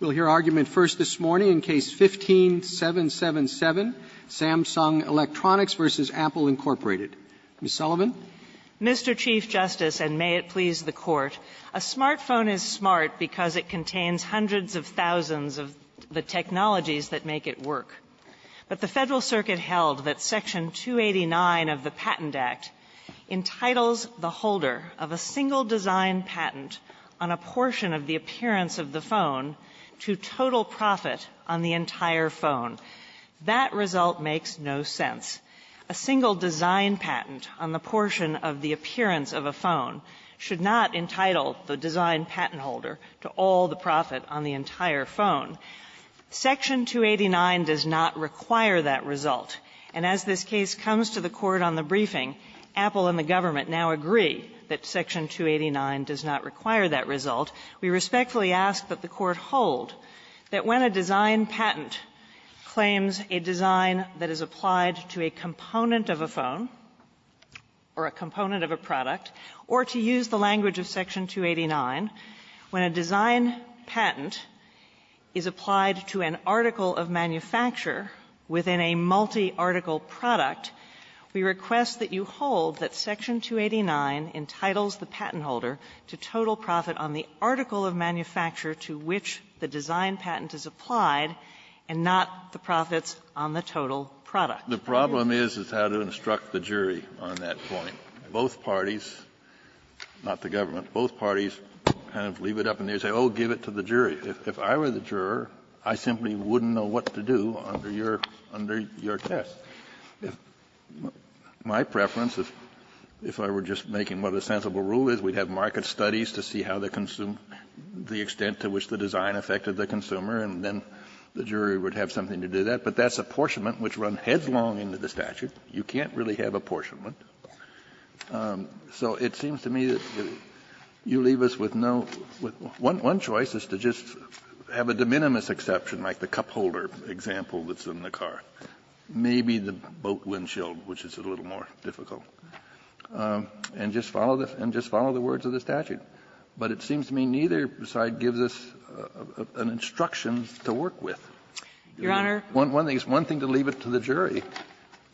We'll hear argument first this morning in Case No. 15-777, Samsung Electronics v. Apple, Inc. Ms. Sullivan. Sullivan, Mr. Chief Justice, and may it please the Court, a smartphone is smart because it contains hundreds of thousands of the technologies that make it work. But the Federal Circuit held that Section 289 of the Patent Act entitles the holder of a single design patent on a portion of the appearance of the phone to total profit on the entire phone. That result makes no sense. A single design patent on the portion of the appearance of a phone should not entitle the design patent holder to all the profit on the entire phone. Section 289 does not require that result. And as this case comes to the Court on the briefing, Apple and the government now agree that Section 289 does not require that result. We respectfully ask that the Court hold that when a design patent claims a design that is applied to a component of a phone or a component of a product, or to use the language of Section 289, when a design patent is applied to an article of manufacture within a multi-article product, we request that you hold that Section 289 entitles the patent holder to total profit on the article of manufacture to which the design patent is applied, and not the profits on the total product. Kennedy, The problem is, is how to instruct the jury on that point. Both parties, not the government, both parties kind of leave it up, and they say, oh, give it to the jury. If I were the juror, I simply wouldn't know what to do under your test. My preference, if I were just making what a sensible rule is, we'd have market studies to see how the consumer, the extent to which the design affected the consumer, and then the jury would have something to do that. But that's apportionment, which run headslong into the statute. You can't really have apportionment. So it seems to me that you leave us with no one choice is to just have a de minimis exception, like the cup holder example that's in the car, maybe the boat windshield, which is a little more difficult, and just follow the words of the statute. But it seems to me neither side gives us an instruction to work with. One thing is to leave it to the jury.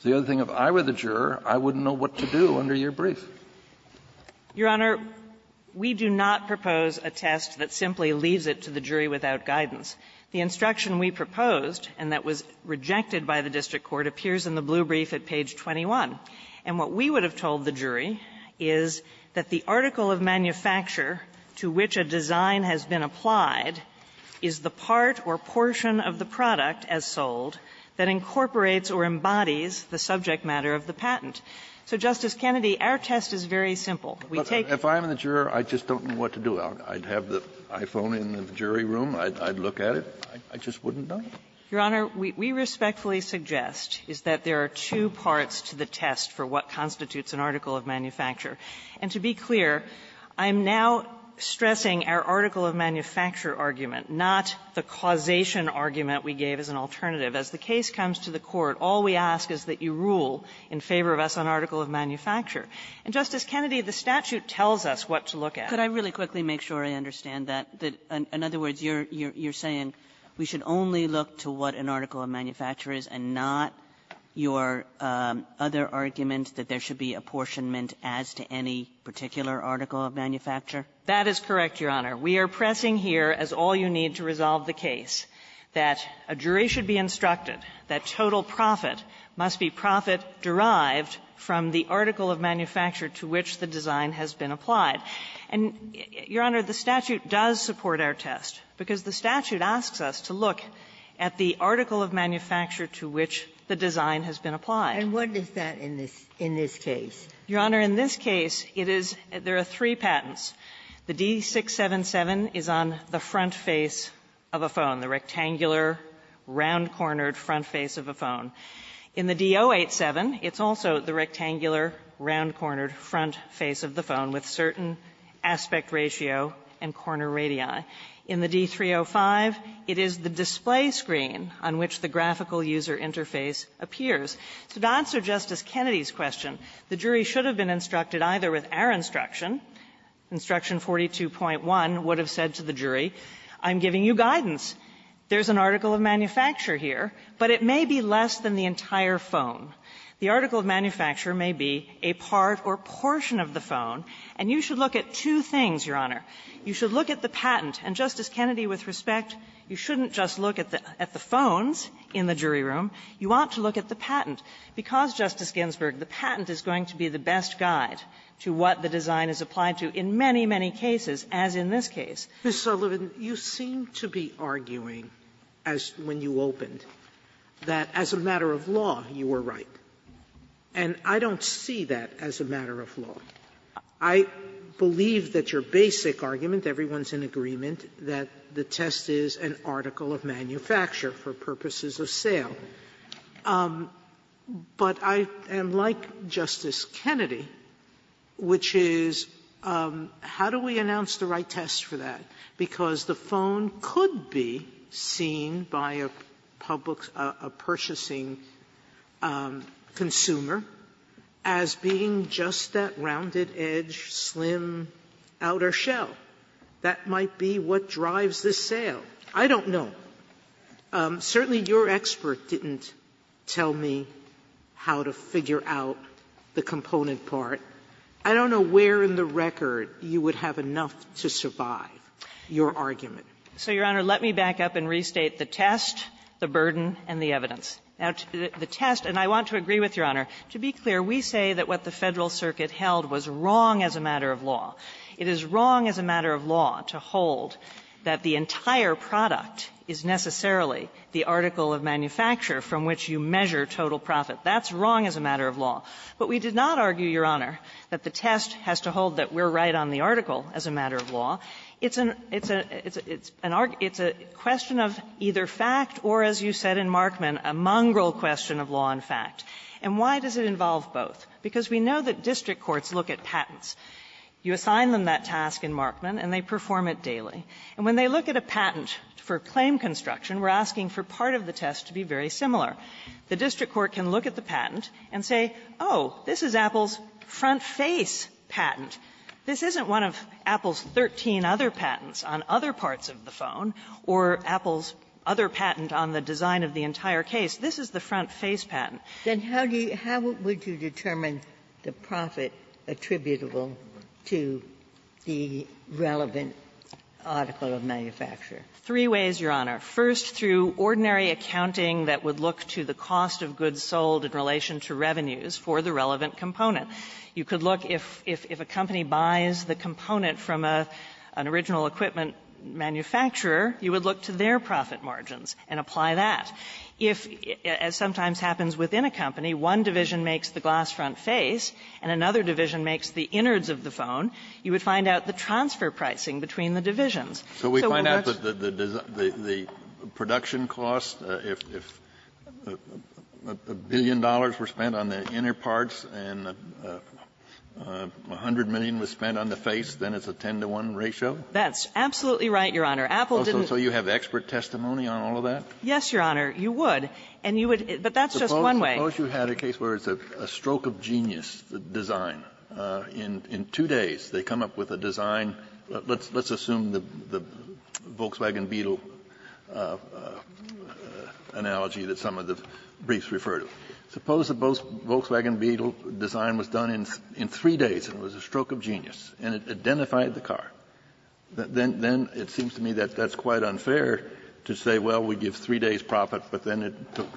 The other thing, if I were the juror, I wouldn't know what to do under your brief. Your Honor, we do not propose a test that simply leaves it to the jury without guidance. The instruction we proposed and that was rejected by the district court appears in the blue brief at page 21. And what we would have told the jury is that the article of manufacture to which a design has been applied is the part or portion of the product as sold that incorporates or embodies the subject matter of the patent. So, Justice Kennedy, our test is very simple. We take the case. Kennedy, if I'm the juror, I just don't know what to do. I'd have the iPhone in the jury room. I'd look at it. I just wouldn't know. Your Honor, we respectfully suggest is that there are two parts to the test for what constitutes an article of manufacture. And to be clear, I'm now stressing our article of manufacture argument, not the causation argument we gave as an alternative. As the case comes to the court, all we ask is that you rule in favor of us an article of manufacture. And, Justice Kennedy, the statute tells us what to look at. Kagan, could I really quickly make sure I understand that? In other words, you're saying we should only look to what an article of manufacture is and not your other argument that there should be apportionment as to any particular article of manufacture? That is correct, Your Honor. We are pressing here, as all you need to resolve the case, that a jury should be instructed that total profit must be profit derived from the article of manufacture to which the design has been applied. And, Your Honor, the statute does support our test, because the statute asks us to look at the article of manufacture to which the design has been applied. And what is that in this case? Your Honor, in this case, it is there are three patents. The D-677 is on the front face of a phone, the rectangular, round-cornered front face of a phone. In the D-087, it's also the rectangular, round-cornered front face of the phone with certain aspect ratio and corner radii. In the D-305, it is the display screen on which the graphical user interface appears. So to answer Justice Kennedy's question, the jury should have been instructed either with our instruction, Instruction 42.1 would have said to the jury, I'm giving you guidance. There's an article of manufacture here, but it may be less than the entire phone. The article of manufacture may be a part or portion of the phone. And you should look at two things, Your Honor. You should look at the patent. And, Justice Kennedy, with respect, you shouldn't just look at the phones in the jury room. You ought to look at the patent. Because, Justice Ginsburg, the patent is going to be the best guide to what the design is applied to in many, many cases, as in this case. Sotomayor, you seem to be arguing, as when you opened, that as a matter of law, you were right. And I don't see that as a matter of law. I believe that your basic argument, everyone's in agreement, that the test is an article of manufacture for purposes of sale. But I am like Justice Kennedy, which is, how do we announce the right test for that? Because the phone could be seen by a public, a purchasing consumer as being just that rounded edge, slim outer shell. That might be what drives the sale. I don't know. Sotomayor, certainly your expert didn't tell me how to figure out the component part. I don't know where in the record you would have enough to survive your argument. So, Your Honor, let me back up and restate the test, the burden, and the evidence. Now, the test, and I want to agree with Your Honor, to be clear, we say that what It is wrong as a matter of law to hold that the entire product is necessarily the article of manufacture from which you measure total profit. That's wrong as a matter of law. But we did not argue, Your Honor, that the test has to hold that we're right on the article as a matter of law. It's a question of either fact or, as you said in Markman, a mongrel question of law and fact. And why does it involve both? Because we know that district courts look at patents. You assign them that task in Markman, and they perform it daily. And when they look at a patent for claim construction, we're asking for part of the test to be very similar. The district court can look at the patent and say, oh, this is Apple's front face patent. This isn't one of Apple's 13 other patents on other parts of the phone or Apple's other patent on the design of the entire case. This is the front face patent. Ginsburg. Then how do you – how would you determine the profit attributable to the relevant article of manufacture? Three ways, Your Honor. First, through ordinary accounting that would look to the cost of goods sold in relation to revenues for the relevant component. You could look if a company buys the component from an original equipment manufacturer, you would look to their profit margins and apply that. If, as sometimes happens within a company, one division makes the glass front face and another division makes the innards of the phone, you would find out the transfer pricing between the divisions. So we would watch the – So we find out the production cost, if a billion dollars were spent on the inner parts and 100 million was spent on the face, then it's a 10-to-1 ratio? That's absolutely right, Your Honor. Apple didn't – So you have expert testimony on all of that? Yes, Your Honor. You would, and you would – but that's just one way. Suppose you had a case where it's a stroke of genius design. In two days, they come up with a design. Let's assume the Volkswagen Beetle analogy that some of the briefs refer to. Suppose the Volkswagen Beetle design was done in three days, and it was a stroke of genius, and it identified the car. Then it seems to me that that's quite unfair to say, well, we give three days' profit, but then it took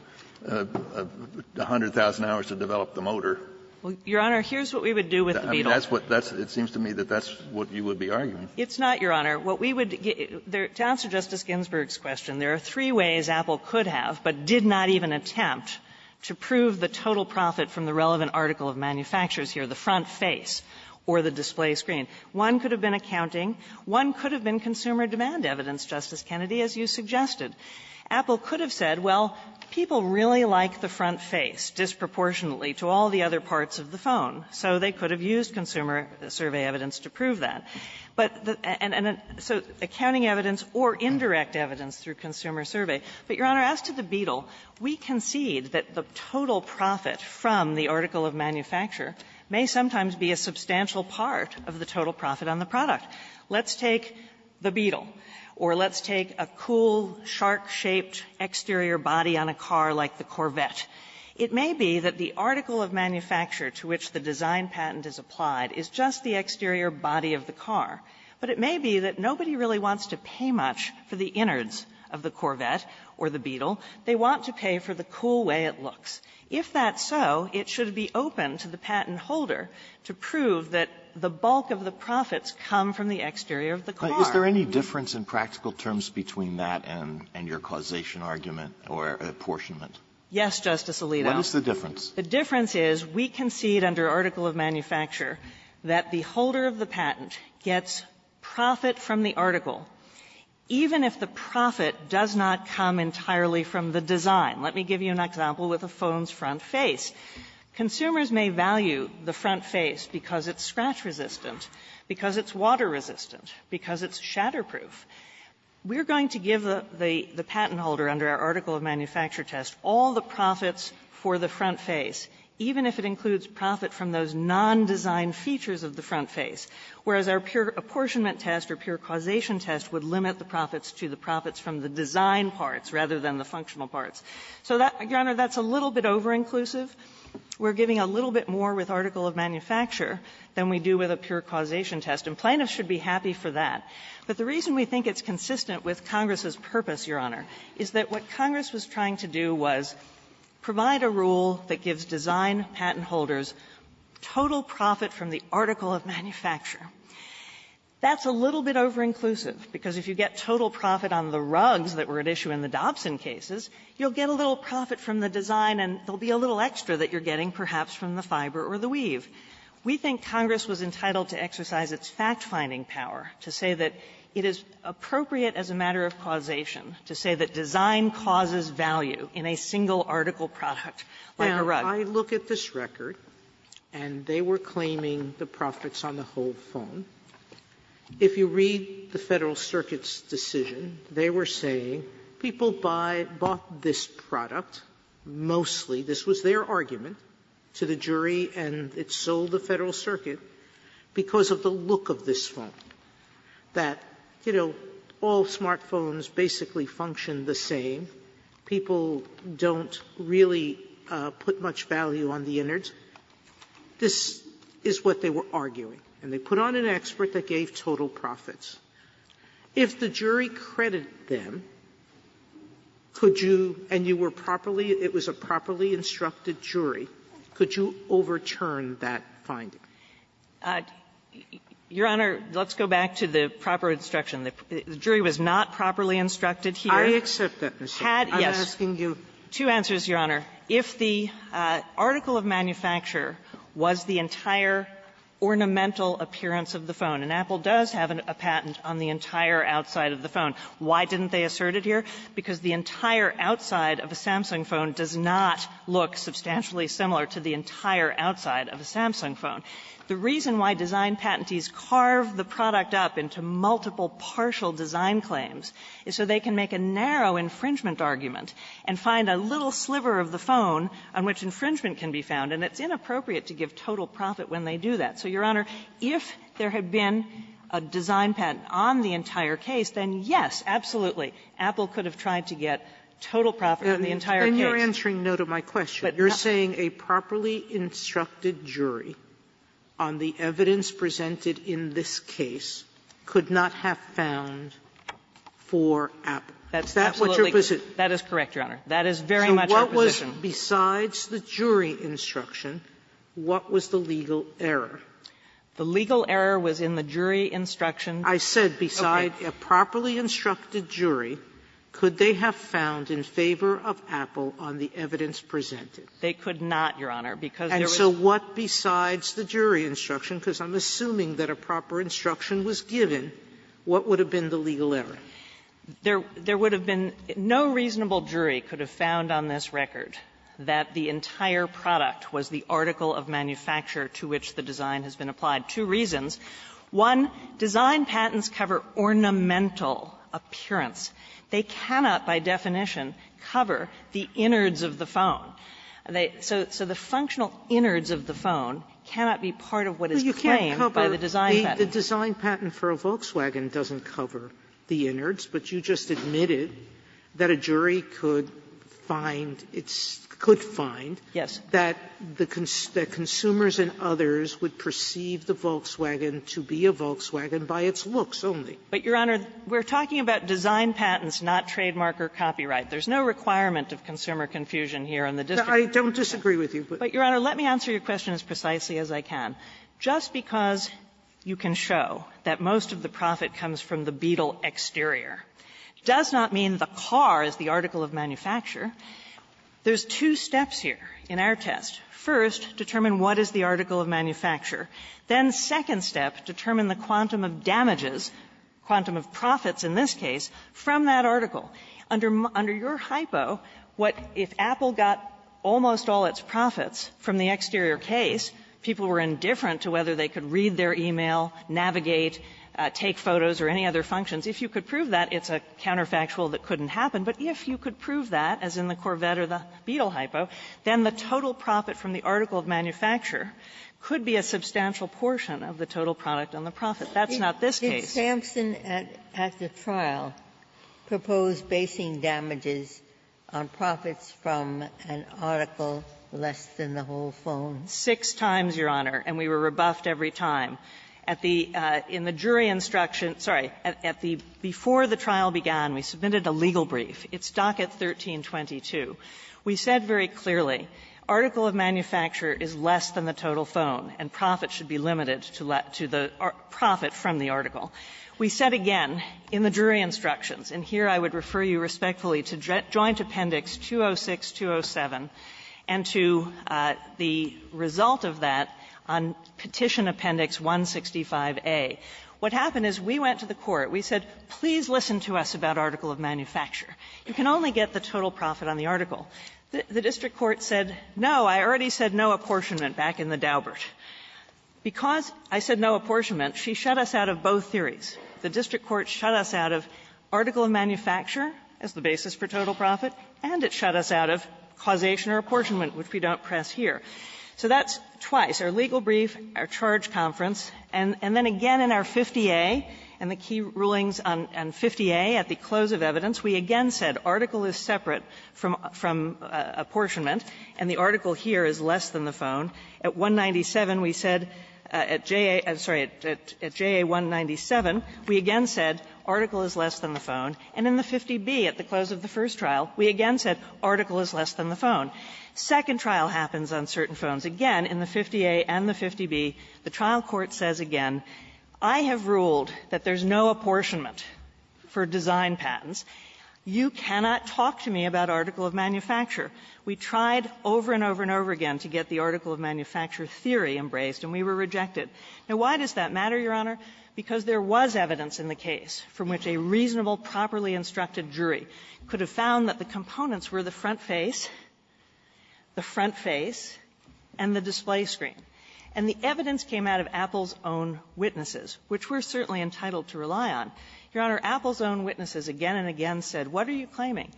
100,000 hours to develop the motor. Well, Your Honor, here's what we would do with the Beetle. I mean, that's what – it seems to me that that's what you would be arguing. It's not, Your Honor. What we would – to answer Justice Ginsburg's question, there are three ways Apple could have, but did not even attempt, to prove the total profit from the relevant article of manufacturers here, the front face or the display screen. One could have been accounting. One could have been consumer demand evidence, Justice Kennedy, as you suggested. Apple could have said, well, people really like the front face disproportionately to all the other parts of the phone. So they could have used consumer survey evidence to prove that. But the – and so accounting evidence or indirect evidence through consumer survey. But, Your Honor, as to the Beetle, we concede that the total profit from the article of manufacture may sometimes be a substantial part of the total profit on the product. Let's take the Beetle, or let's take a cool, shark-shaped exterior body on a car like the Corvette. It may be that the article of manufacture to which the design patent is applied is just the exterior body of the car. But it may be that nobody really wants to pay much for the innards of the Corvette or the Beetle. They want to pay for the cool way it looks. If that's so, it should be open to the patent holder to prove that the bulk of the profits come from the exterior of the car. Alito, is there any difference in practical terms between that and your causation argument or apportionment? Yes, Justice Alito. What is the difference? The difference is we concede under article of manufacture that the holder of the patent gets profit from the article, even if the profit does not come entirely from the design. Let me give you an example with a phone's front face. Consumers may value the front face because it's scratch-resistant, because it's water-resistant, because it's shatter-proof. We're going to give the patent holder under our article of manufacture test all the profits for the front face, even if it includes profit from those non-design features of the front face, whereas our pure apportionment test or pure causation test would limit the profits to the profits from the design parts rather than the functional parts. So that, Your Honor, that's a little bit over-inclusive. We're giving a little bit more with article of manufacture than we do with a pure causation test, and plaintiffs should be happy for that. But the reason we think it's consistent with Congress's purpose, Your Honor, is that what Congress was trying to do was provide a rule that gives design patent holders total profit from the article of manufacture. That's a little bit over-inclusive. Because if you get total profit on the rugs that were at issue in the Dobson cases, you'll get a little profit from the design, and there will be a little extra that you're getting, perhaps, from the fiber or the weave. We think Congress was entitled to exercise its fact-finding power to say that it is appropriate as a matter of causation to say that design causes value in a single article product, like a rug. Sotomayor, I look at this record, and they were claiming the profits on the whole phone. If you read the Federal Circuit's decision, they were saying people buy or bought this product, mostly, this was their argument, to the jury, and it sold the Federal Circuit because of the look of this phone, that, you know, all smartphones basically function the same, people don't really put much value on the innards. This is what they were arguing, and they put on an expert that gave total profits. If the jury credited them, could you, and you were properly, it was a properly instructed jury, could you overturn that finding? Sullivan-Dreeben, Your Honor, let's go back to the proper instruction. The jury was not properly instructed here. Sotomayor, I accept that, Ms. Sullivan. I'm asking you. Sullivan-Dreeben, Two answers, Your Honor. If the article of manufacture was the entire ornamental appearance of the phone, and Apple does have a patent on the entire outside of the phone, why didn't they assert it here? Because the entire outside of a Samsung phone does not look substantially similar to the entire outside of a Samsung phone. The reason why design patentees carve the product up into multiple partial design claims is so they can make a narrow infringement argument and find a little sliver of the phone on which infringement can be found, and it's inappropriate to give total profit when they do that. So, Your Honor, if there had been a design patent on the entire case, then yes, absolutely, Apple could have tried to get total profit on the entire case. Sotomayor, you're saying a properly instructed jury on the evidence presented in this case could not have found for Apple. That's absolutely correct, Your Honor. That is very much our position. Sotomayor, besides the jury instruction, what was the legal error? The legal error was in the jury instruction. I said besides a properly instructed jury, could they have found in favor of Apple on the evidence presented? They could not, Your Honor, because there was not. And so what besides the jury instruction, because I'm assuming that a proper instruction was given, what would have been the legal error? There would have been no reasonable jury could have found on this record that the entire product was the article of manufacture to which the design has been applied. Two reasons. One, design patents cover ornamental appearance. They cannot, by definition, cover the innards of the phone. So the functional innards of the phone cannot be part of what is claimed by the design patent. Sotomayor, the design patent for a Volkswagen doesn't cover the innards, but you just admitted that a jury could find its – could find that the consumers and others would perceive the Volkswagen to be a Volkswagen by its looks only. But, Your Honor, we're talking about design patents, not trademark or copyright. There's no requirement of consumer confusion here on the district court. I don't disagree with you, but – But, Your Honor, let me answer your question as precisely as I can. Just because you can show that most of the profit comes from the Beetle exterior does not mean the car is the article of manufacture. There's two steps here in our test. First, determine what is the article of manufacture. Then, second step, determine the quantum of damages, quantum of profits in this case, from that article. Under your hypo, what if Apple got almost all its profits from the exterior case, people were indifferent to whether they could read their e-mail, navigate, take photos or any other functions. If you could prove that, it's a counterfactual that couldn't happen. But if you could prove that, as in the Corvette or the Beetle hypo, then the total profit from the article of manufacture could be a substantial portion of the total product on the profit. That's not this case. Ginsburg. Did Sampson at the trial propose basing damages on profits from an article less than the whole phone? Six times, Your Honor, and we were rebuffed every time. At the – in the jury instruction – sorry. At the – before the trial began, we submitted a legal brief. It's docket 1322. We said very clearly, article of manufacture is less than the total phone, and profits should be limited to the profit from the article. We said again in the jury instructions, and here I would refer you respectfully to Joint Appendix 206, 207, and to the result of that on Petition Appendix 165A. What happened is we went to the court. We said, please listen to us about article of manufacture. You can only get the total profit on the article. The district court said, no, I already said no apportionment back in the Daubert. Because I said no apportionment, she shut us out of both theories. The district court shut us out of article of manufacture as the basis for total profit, and it shut us out of causation or apportionment, which we don't press here. So that's twice, our legal brief, our charge conference, and then again in our 50A and the key rulings on 50A at the close of evidence, we again said article is separate from – from apportionment, and the article here is less than the phone. At 197, we said, at JA – I'm sorry, at JA 197, we again said article is less than the phone, and in the 50B at the close of the first trial, we again said article is less than the phone. Second trial happens on certain phones. Again, in the 50A and the 50B, the trial court says again, I have ruled that there's no apportionment for design patents. You cannot talk to me about article of manufacture. We tried over and over and over again to get the article of manufacture theory embraced, and we were rejected. Now, why does that matter, Your Honor? Because there was evidence in the case from which a reasonable, properly instructed jury could have found that the components were the front face, the front face, and the display screen. And the evidence came out of Apple's own witnesses, which we're certainly entitled to rely on. Your Honor, Apple's own witnesses again and again said, what are you claiming?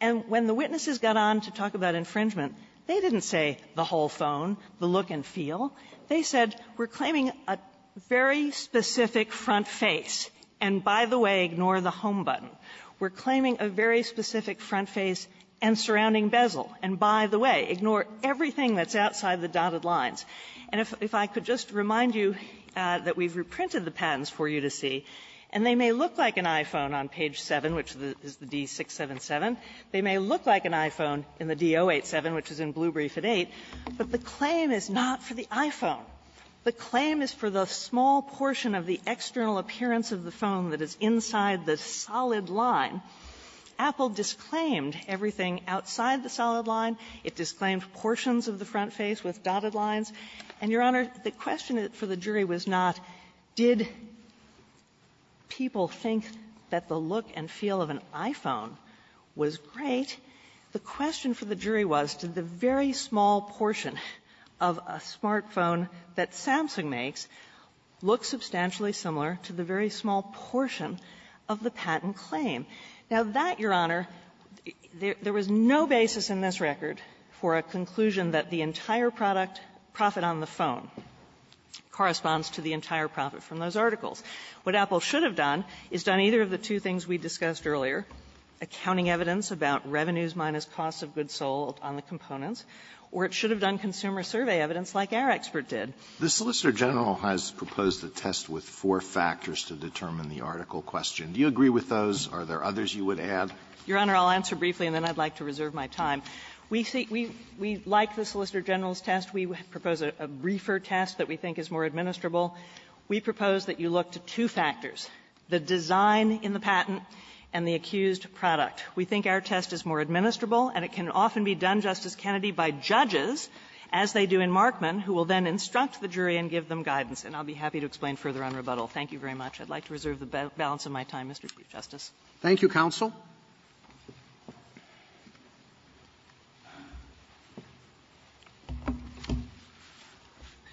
And when the witnesses got on to talk about infringement, they didn't say the whole phone, the look and feel. They said, we're claiming a very specific front face, and by the way, ignore the home button. We're claiming a very specific front face and surrounding bezel, and by the way, ignore everything that's outside the dotted lines. And if I could just remind you that we've reprinted the patents for you to see, and they may look like an iPhone on page 7, which is the D-677. They may look like an iPhone in the D-087, which is in Blue Brief at 8, but the claim is not for the iPhone. The claim is for the small portion of the external appearance of the phone that is inside the solid line. Apple disclaimed everything outside the solid line. It disclaimed portions of the front face with dotted lines. And, Your Honor, the question for the jury was not, did people think that the look and feel of an iPhone was great? The question for the jury was, did the very small portion of a smartphone that Samsung makes look substantially similar to the very small portion of the patent claim? Now, that, Your Honor, there was no basis in this corresponds to the entire profit from those articles. What Apple should have done is done either of the two things we discussed earlier, accounting evidence about revenues minus cost of goods sold on the components, or it should have done consumer survey evidence like our expert did. Alitoso, the Solicitor General has proposed a test with four factors to determine the article question. Do you agree with those? Are there others you would add? Your Honor, I'll answer briefly, and then I'd like to reserve my time. We see we like the Solicitor General's test. We propose a briefer test that we think is more administrable. We propose that you look to two factors, the design in the patent and the accused product. We think our test is more administrable, and it can often be done, Justice Kennedy, by judges, as they do in Markman, who will then instruct the jury and give them guidance. And I'll be happy to explain further on rebuttal. Thank you very much. I'd like to reserve the balance of my time, Mr. Chief Justice. Roberts. Thank you, counsel.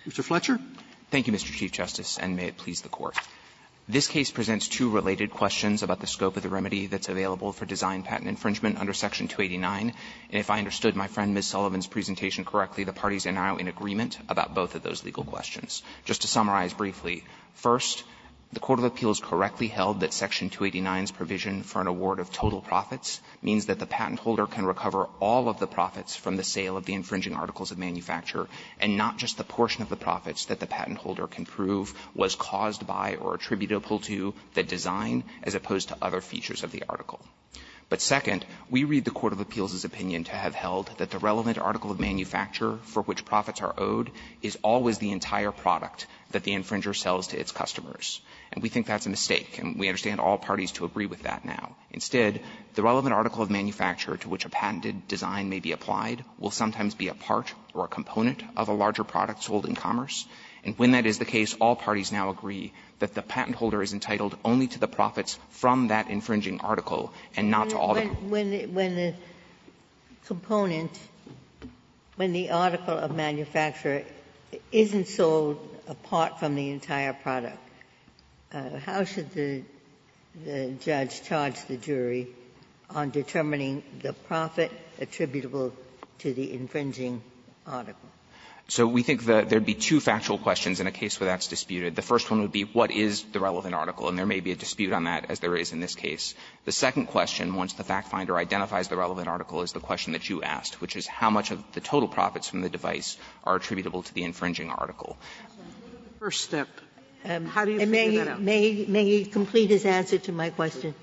Mr. Fletcher. Fletcher. Thank you, Mr. Chief Justice, and may it please the Court. This case presents two related questions about the scope of the remedy that's available for design patent infringement under Section 289. And if I understood my friend Ms. Sullivan's presentation correctly, the parties are now in agreement about both of those legal questions. Just to summarize briefly, first, the court of appeals correctly held that Section 289's provision for an award of total profits means that the patent holder can recover all of the profits from the sale of the infringing articles of manufacture, and not just the portion of the profits that the patent holder can prove was caused by or attributable to the design, as opposed to other features of the article. But second, we read the court of appeals' opinion to have held that the relevant article of manufacture for which profits are owed is always the entire product that the infringer sells to its customers. And we think that's a mistake, and we understand all parties to agree with that now. Instead, the relevant article of manufacture to which a patented design may be applied will sometimes be a part or a component of a larger product sold in commerce. And when that is the case, all parties now agree that the patent holder is entitled only to the profits from that infringing article, and not to all the profits. Ginsburg. Ginsburg. When the component, when the article of manufacture isn't sold apart from the entire product, how should the judge charge the jury on determining the profit attributable to the infringing article? So we think there would be two factual questions in a case where that's disputed. The first one would be what is the relevant article, and there may be a dispute on that, as there is in this case. The second question, once the fact finder identifies the relevant article, is the question that you asked, which is how much of the total profits from the device are attributable to the infringing article. Sotomayor, the first step, how do you figure that out? May he complete his answer to my question?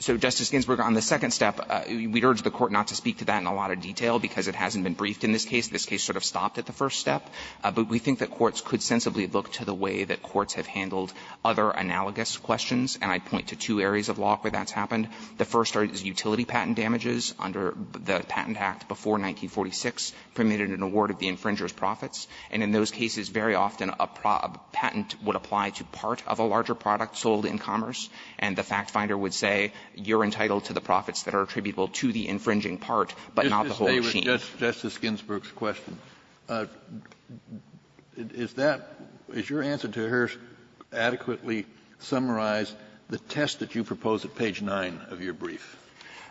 So, Justice Ginsburg, on the second step, we'd urge the Court not to speak to that in a lot of detail, because it hasn't been briefed in this case. This case sort of stopped at the first step. But we think that courts could sensibly look to the way that courts have handled other analogous questions. And I'd point to two areas of law where that's happened. The first are utility patent damages under the Patent Act before 1946 permitted an award of the infringer's profits. And in those cases, very often a patent would apply to part of a larger product sold in commerce, and the fact finder would say, you're entitled to the profits that are attributable to the infringing part, but not the whole machine. Kennedy, Justice Ginsburg's question. Is that your answer to hers adequately summarize the test that you propose at page 9 of your brief,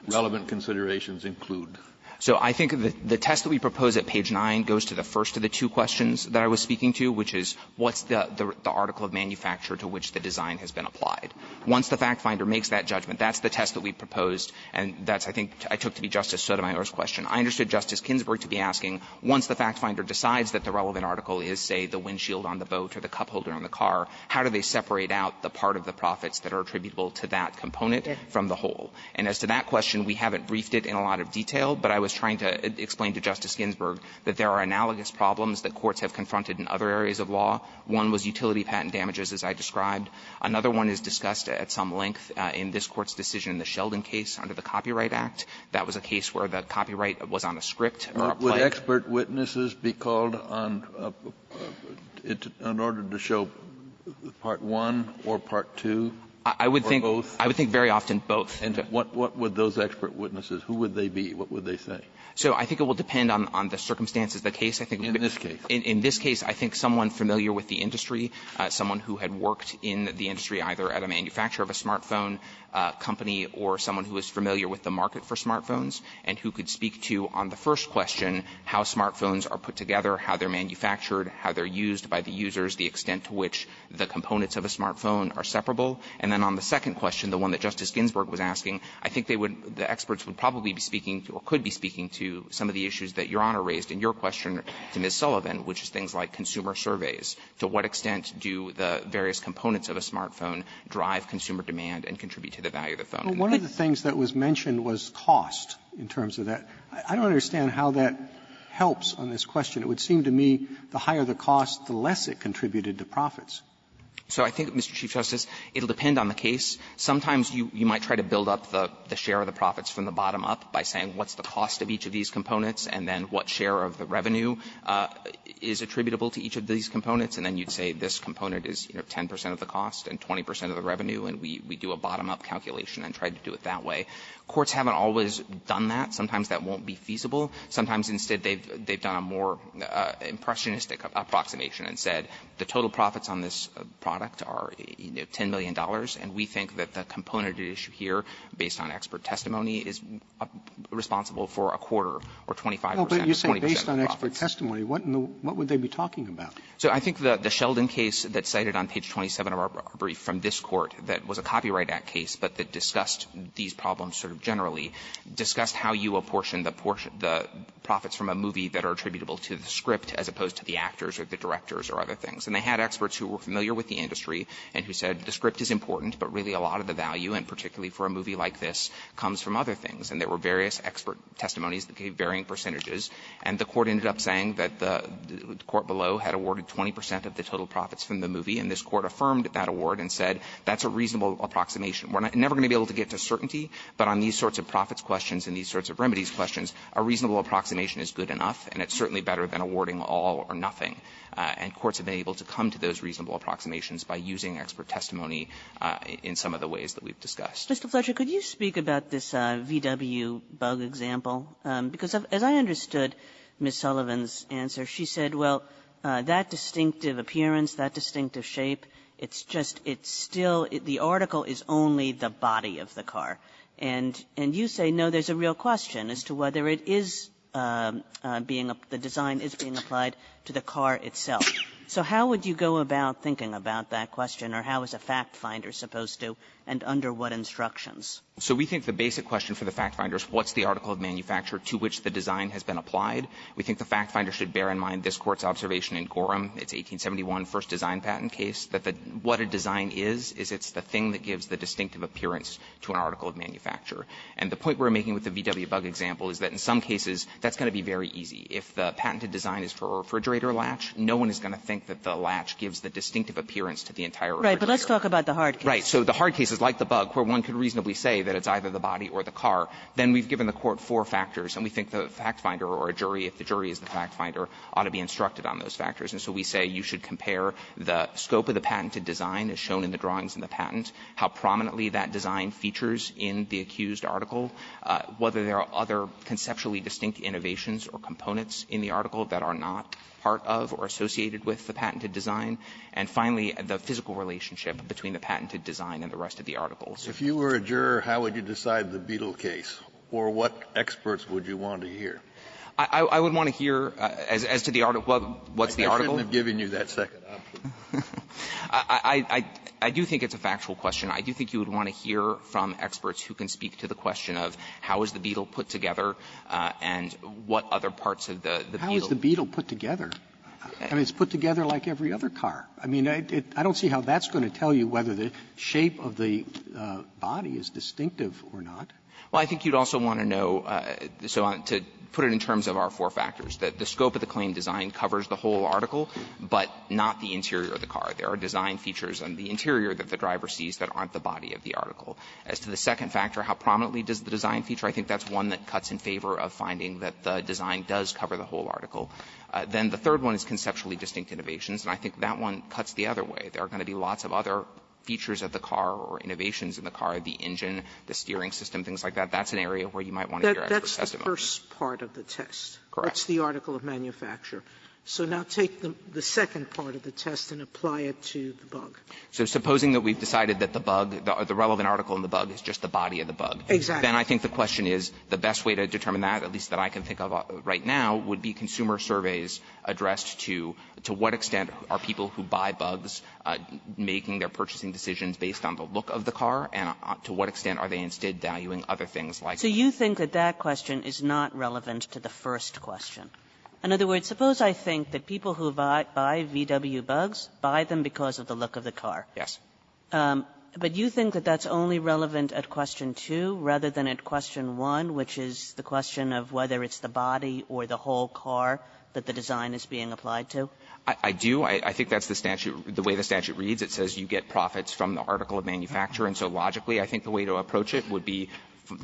relevant considerations include? So I think the test that we propose at page 9 goes to the first of the two questions that I was speaking to, which is what's the article of manufacture to which the design has been applied. Once the fact finder makes that judgment, that's the test that we proposed, and that's I think I took to be Justice Sotomayor's question. I understood Justice Ginsburg to be asking, once the fact finder decides that the relevant article is, say, the windshield on the boat or the cup holder on the car, how do they separate out the part of the profits that are attributable to that component from the whole. And as to that question, we haven't briefed it in a lot of detail, but I was trying to explain to Justice Ginsburg that there are analogous problems that courts have confronted in other areas of law. One was utility patent damages, as I described. Another one is discussed at some length in this Court's decision in the Sheldon case under the Copyright Act. That was a case where the copyright was on a script or a plate. Kennedy Would expert witnesses be called on order to show part one or part two or both? I would think very often both. And what would those expert witnesses, who would they be, what would they say? So I think it will depend on the circumstances of the case. I think in this case, I think someone familiar with the industry, someone who had worked in the industry either at a manufacturer of a smartphone company or someone who is familiar with the market for smartphones and who could speak to, on the first question, how smartphones are put together, how they're manufactured, how they're used by the users, the extent to which the components of a smartphone are separable. And then on the second question, the one that Justice Ginsburg was asking, I think they would, the experts would probably be speaking or could be speaking to some of the issues that Your Honor raised in your question to Ms. Sullivan, which is things like consumer surveys. To what extent do the various components of a smartphone drive consumer demand and contribute to the value of the phone? Roberts, one of the things that was mentioned was cost in terms of that. I don't understand how that helps on this question. It would seem to me the higher the cost, the less it contributed to profits. So I think, Mr. Chief Justice, it will depend on the case. Sometimes you might try to build up the share of the profits from the bottom up by saying what's the cost of each of these components, and then what share of the revenue is attributable to each of these components. And then you'd say this component is, you know, 10 percent of the cost and 20 percent of the revenue, and we do a bottom-up calculation and try to do it that way. Courts haven't always done that. Sometimes that won't be feasible. Sometimes instead they've done a more impressionistic approximation and said the total profits on this product are, you know, $10 million, and we think that the component at issue here, based on expert testimony, is responsible for a quarter or 25 percent of profits. Roberts, based on expert testimony, what would they be talking about? So I think the Sheldon case that's cited on page 27 of our brief from this Court that was a Copyright Act case but that discussed these problems sort of generally discussed how you apportioned the profits from a movie that are attributable to the script as opposed to the actors or the directors or other things. And they had experts who were familiar with the industry and who said the script is important, but really a lot of the value, and particularly for a movie like this, comes from other things. And there were various expert testimonies that gave varying percentages. And the Court ended up saying that the court below had awarded 20 percent of the total profits from the movie, and this Court affirmed that award and said that's a reasonable approximation. We're never going to be able to get to certainty, but on these sorts of profits questions and these sorts of remedies questions, a reasonable approximation is good enough, and it's certainly better than awarding all or nothing. And courts have been able to come to those reasonable approximations by using expert testimony in some of the ways that we've discussed. Kagan. And just a flash, Mr. Fletcher, could you speak about this VW bug example? Because as I understood Ms. Sullivan's answer, she said, well, that distinctive appearance, that distinctive shape, it's just, it's still, the article is only the body of the car. And you say no, there's a real question as to whether it is being, the design is being applied to the car itself. So how would you go about thinking about that question, or how is a fact finder supposed to, and under what instructions? Fletcher. So we think the basic question for the fact finder is what's the article of manufacture to which the design has been applied? We think the fact finder should bear in mind this Court's observation in Gorham, its 1871 first design patent case, that the, what a design is, is it's the thing that gives the distinctive appearance to an article of manufacture. And the point we're making with the VW bug example is that in some cases, that's going to be very easy. If the patented design is for a refrigerator latch, no one is going to think that the latch gives the distinctive appearance to the entire refrigerator. Kagan. Right. But let's talk about the hard case. Fletcher. Right. So the hard case is like the bug, where one could reasonably say that it's either the body or the car. Then we've given the Court four factors, and we think the fact finder or a jury, if the jury is the fact finder, ought to be instructed on those factors. And so we say you should compare the scope of the patented design as shown in the drawings in the patent, how prominently that design features in the accused article, whether there are other conceptually distinct innovations or components in the article that are not part of or associated with the patented design, and finally, the physical relationship between the patented design and the rest of the articles. Kennedy. If you were a juror, how would you decide the Beetle case, or what experts would you want to hear? Fletcher. I would want to hear, as to the article, what's the article. Kennedy. I shouldn't have given you that second option. Fletcher. I do think it's a factual question. I do think you would want to hear from experts who can speak to the question of how is the Beetle put together and what other parts of the Beetle. Roberts. How is the Beetle put together? I mean, it's put together like every other car. I mean, I don't see how that's going to tell you whether the shape of the body is distinctive or not. Fletcher. Well, I think you'd also want to know, so to put it in terms of our four factors, that the scope of the claim design covers the whole article, but not the interior of the car. There are design features on the interior that the driver sees that aren't the body of the article. As to the second factor, how prominently does the design feature, I think that's one that cuts in favor of finding that the design does cover the whole article. Then the third one is conceptually distinct innovations. And I think that one cuts the other way. There are going to be lots of other features of the car or innovations in the car, the engine, the steering system, things like that. That's an area where you might want to hear expert testimony. Sotomayor. That's the first part of the test. Fletcher. Correct. Sotomayor. That's the article of manufacture. So now take the second part of the test and apply it to the bug. Fletcher. So supposing that we've decided that the bug, the relevant article in the bug is just the body of the bug. Sotomayor. Exactly. Fletcher. Then I think the question is, the best way to determine that, at least that I can think of right now, would be consumer surveys addressed to, to what extent are people who buy bugs making their purchasing decisions based on the look of the car, and to what extent are they instead valuing other things like that? Kagan. So you think that that question is not relevant to the first question. In other words, suppose I think that people who buy VW bugs buy them because of the look of the car. Fletcher. Yes. Kagan. But you think that that's only relevant at question 2 rather than at question 1, which is the question of whether it's the body or the whole car that the design is being applied to? Fletcher. I do. I think that's the statute, the way the statute reads. It says you get profits from the article of manufacture. And so logically, I think the way to approach it would be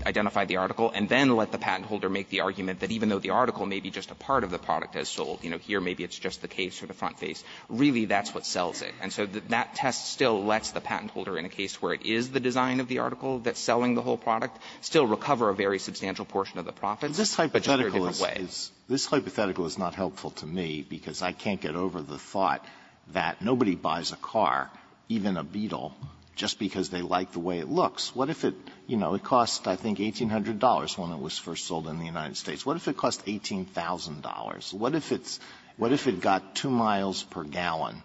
identify the article and then let the patent holder make the argument that even though the article may be just a part of the product as sold, you know, here maybe it's just the case or the front face, really that's what sells it. And so that test still lets the patent holder in a case where it is the design of the article that's selling the whole product, still recover a very substantial portion of the profits, but just in a different way. Alitoson This hypothetical is not helpful to me because I can't get over the thought that nobody buys a car, even a Beetle, just because they like the way it looks. What if it, you know, it cost, I think, $1,800 when it was first sold in the United States. What if it cost $18,000? What if it's got 2 miles per gallon?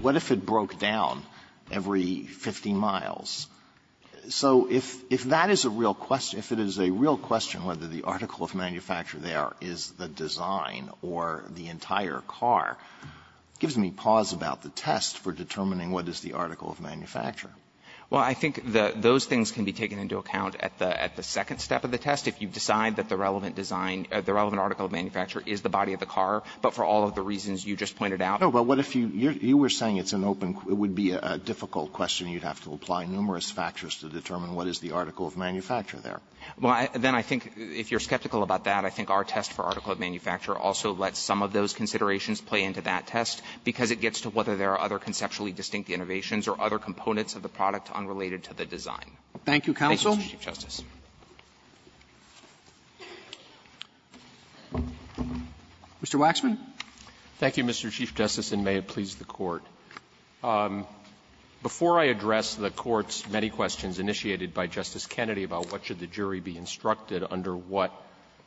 What if it broke down every 50 miles? So if that is a real question, if it is a real question whether the article of manufacture there is the design or the entire car, it gives me pause about the test for determining what is the article of manufacture. Well, I think those things can be taken into account at the second step of the test. If you decide that the relevant design, the relevant article of manufacture is the body of the car, but for all of the reasons you just pointed out. But what if you were saying it's an open, it would be a difficult question. You would have to apply numerous factors to determine what is the article of manufacture Alitoson Well, then I think if you are skeptical about that, I think our test for article of manufacture also lets some of those considerations play into that test, because it gets to whether there are other conceptually distinct innovations or other components of the product unrelated to the design. Robertson Thank you, counsel. Alitoson Thank you, Mr. Chief Justice. Robertson Mr. Waxman. Waxman Thank you, Mr. Chief Justice, and may it please the Court. Before I address the Court's many questions initiated by Justice Kennedy about what should the jury be instructed under what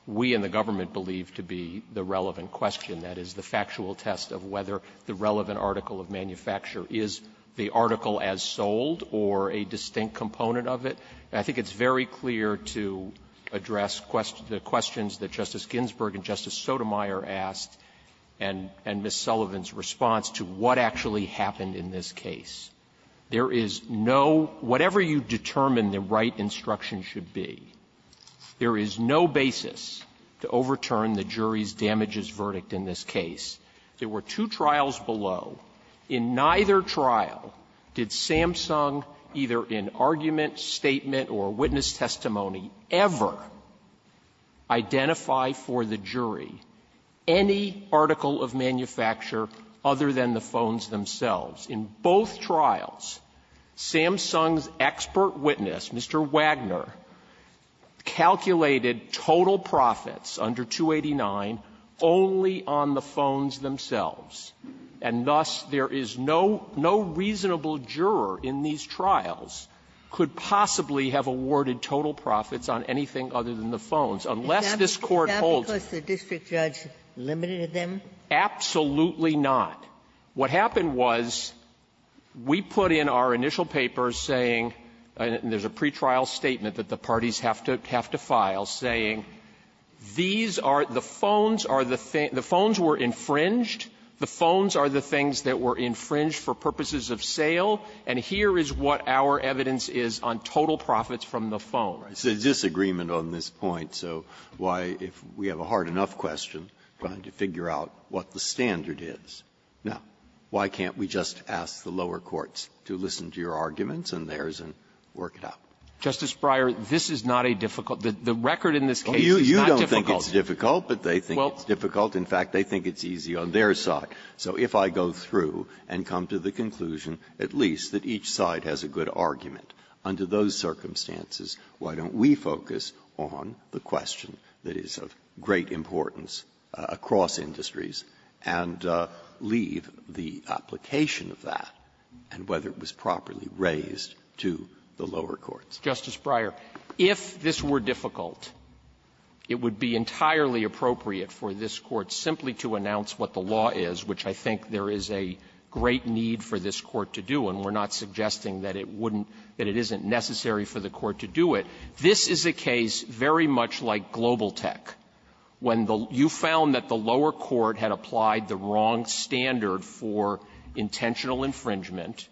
we in the government believe to be the relevant question, that is, the factual test of whether the relevant article of manufacture is the article as sold or a distinct component of it, I think it's very clear to address the questions that Justice Ginsburg and Justice Sotomayor asked and Ms. Sullivan's response to what actually happened in this case. There is no, whatever you determine the right instruction should be, there is no basis to overturn the jury's damages verdict in this case. There were two trials below. In neither trial did Samsung, either in argument, statement, or witness testimony, ever identify for the jury any article of manufacture other than the phones themselves. In both trials, Samsung's expert witness, Mr. Wagner, calculated total profits under 289 only on the phones themselves, and thus there is no reasonable juror in these on anything other than the phones, unless this Court holds them. Ginsburg. Is that because the district judge limited them? Absolutely not. What happened was we put in our initial papers saying, and there's a pretrial statement that the parties have to file, saying these are the phones are the things the phones were infringed, the phones are the things that were infringed for purposes of sale, and here is what our evidence is on total profits from the phone. It's a disagreement on this point. So why, if we have a hard-enough question, trying to figure out what the standard is, now, why can't we just ask the lower courts to listen to your arguments and theirs and work it out? Justice Breyer, this is not a difficult --" the record in this case is not difficult. You don't think it's difficult, but they think it's difficult. In fact, they think it's easy on their side. So if I go through and come to the conclusion at least that each side has a good argument, under those circumstances, why don't we focus on the question that is of great importance across industries and leave the application of that and whether it was properly raised to the lower courts? Justice Breyer, if this were difficult, it would be entirely appropriate for this Court simply to announce what the law is, which I think there is a great need for this Court to do, and we're not suggesting that it wouldn't --" that it isn't necessary for the Court to do it. This is a case very much like Globaltech, when the --" you found that the lower court had applied the wrong standard for intentional infringement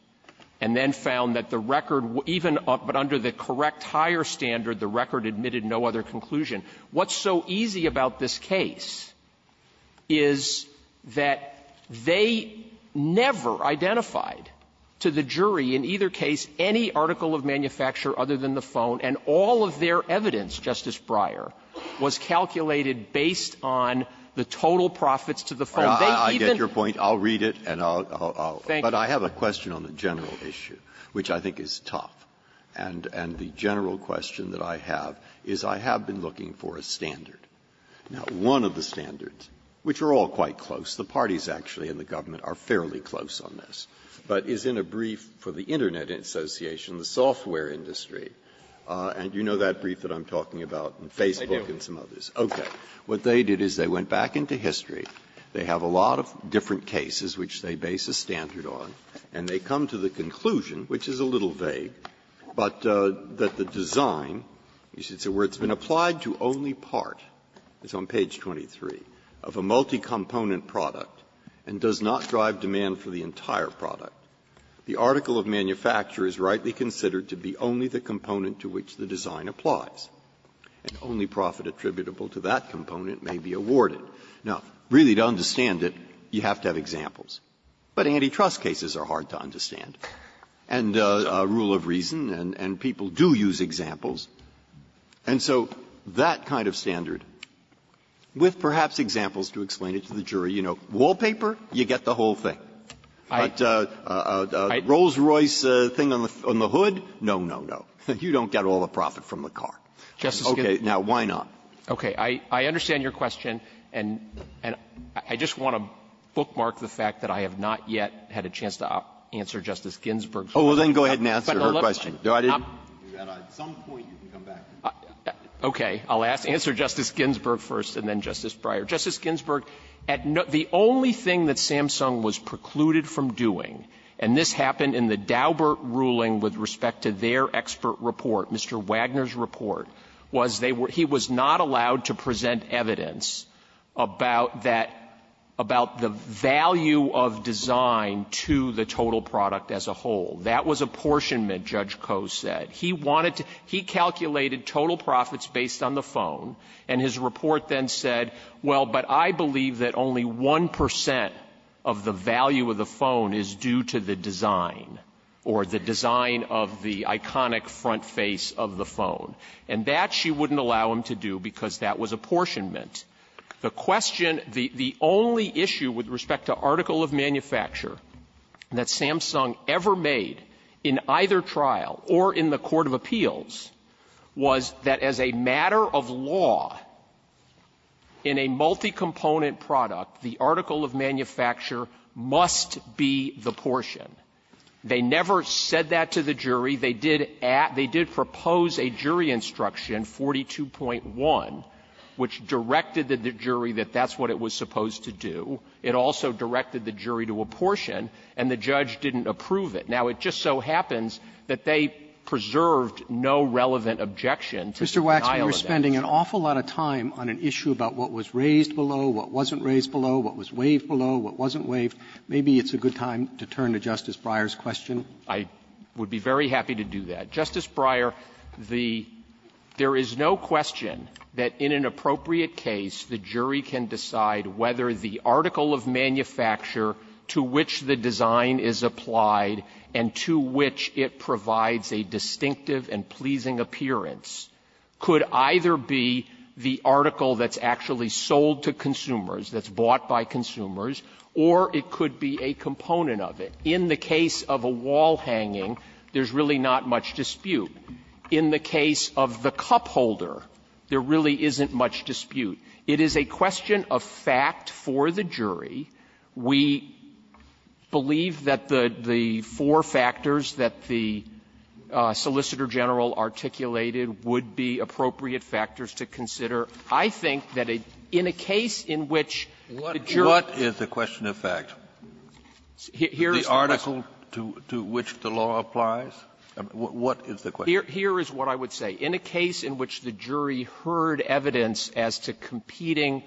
and then found that the record even under the correct higher standard, the record admitted no other conclusion. What's so easy about this case is that they never identified to the jury in either case any article of manufacture other than the phone, and all of their evidence, Justice Breyer, was calculated based on the total profits to the phone. They even --" Breyer, I get your point. I'll read it, and I'll --" Thank you. But I have a question on the general issue, which I think is tough. And the general question that I have is I have been looking for a standard. Now, one of the standards, which are all quite close, the parties actually in the government are fairly close on this, but is in a brief for the Internet Association, the software industry. And you know that brief that I'm talking about, and Facebook and some others. Okay. What they did is they went back into history. They have a lot of different cases which they base a standard on, and they come to the conclusion, which is a little vague, but that the design, where it's been applied to only part, it's on page 23, of a multi-component product, and does not drive demand for the entire product, the article of manufacture is rightly considered to be only the component to which the design applies, and only profit attributable to that component may be awarded. Now, really, to understand it, you have to have examples, but antitrust cases are very hard to understand, and rule of reason, and people do use examples. And so that kind of standard, with perhaps examples to explain it to the jury, you know, wallpaper, you get the whole thing. But a Rolls-Royce thing on the hood, no, no, no. You don't get all the profit from the car. Okay. Now, why not? Waxman. Okay. I understand your question, and I just want to bookmark the fact that I have not yet had a chance to answer Justice Ginsburg's question. Breyer, Justice Ginsburg, at no the only thing that Samsung was precluded from doing, and this happened in the Daubert ruling with respect to their expert report, Mr. Wagner's report, was they were he was not allowed to present evidence about that, about the value of design to the total product as a whole. That was apportionment, Judge Coe said. He wanted to he calculated total profits based on the phone, and his report then said, well, but I believe that only 1 percent of the value of the phone is due to the design, or the design of the iconic front face of the phone. And that she wouldn't allow him to do because that was apportionment. The question, the only issue with respect to article of manufacture that Samsung ever made in either trial or in the court of appeals was that as a matter of law in a multi-component product, the article of manufacture must be the portion. And in the jury, they did at they did propose a jury instruction 42.1 which directed the jury that that's what it was supposed to do. It also directed the jury to apportion, and the judge didn't approve it. Now it just so happens that they preserved no relevant objection to the file of that issue. Roberts, we were spending an awful lot of time on an issue about what was raised below, what wasn't raised below, what was waived below, what wasn't waived. Maybe it's a good time to turn to Justice Breyer's question. I would be very happy to do that. Justice Breyer, the – there is no question that in an appropriate case, the jury can decide whether the article of manufacture to which the design is applied and to which it provides a distinctive and pleasing appearance could either be the article that's actually sold to consumers, that's bought by consumers, or it could be a component of it. In the case of a wall hanging, there's really not much dispute. In the case of the cup holder, there really isn't much dispute. It is a question of fact for the jury. We believe that the four factors that the Solicitor General articulated would be appropriate factors to consider. I think that in a case in which the jury ---- Kennedy, what is the question of fact? Here is the question. The article to which the law applies? What is the question? Here is what I would say. In a case in which the jury heard evidence as to competing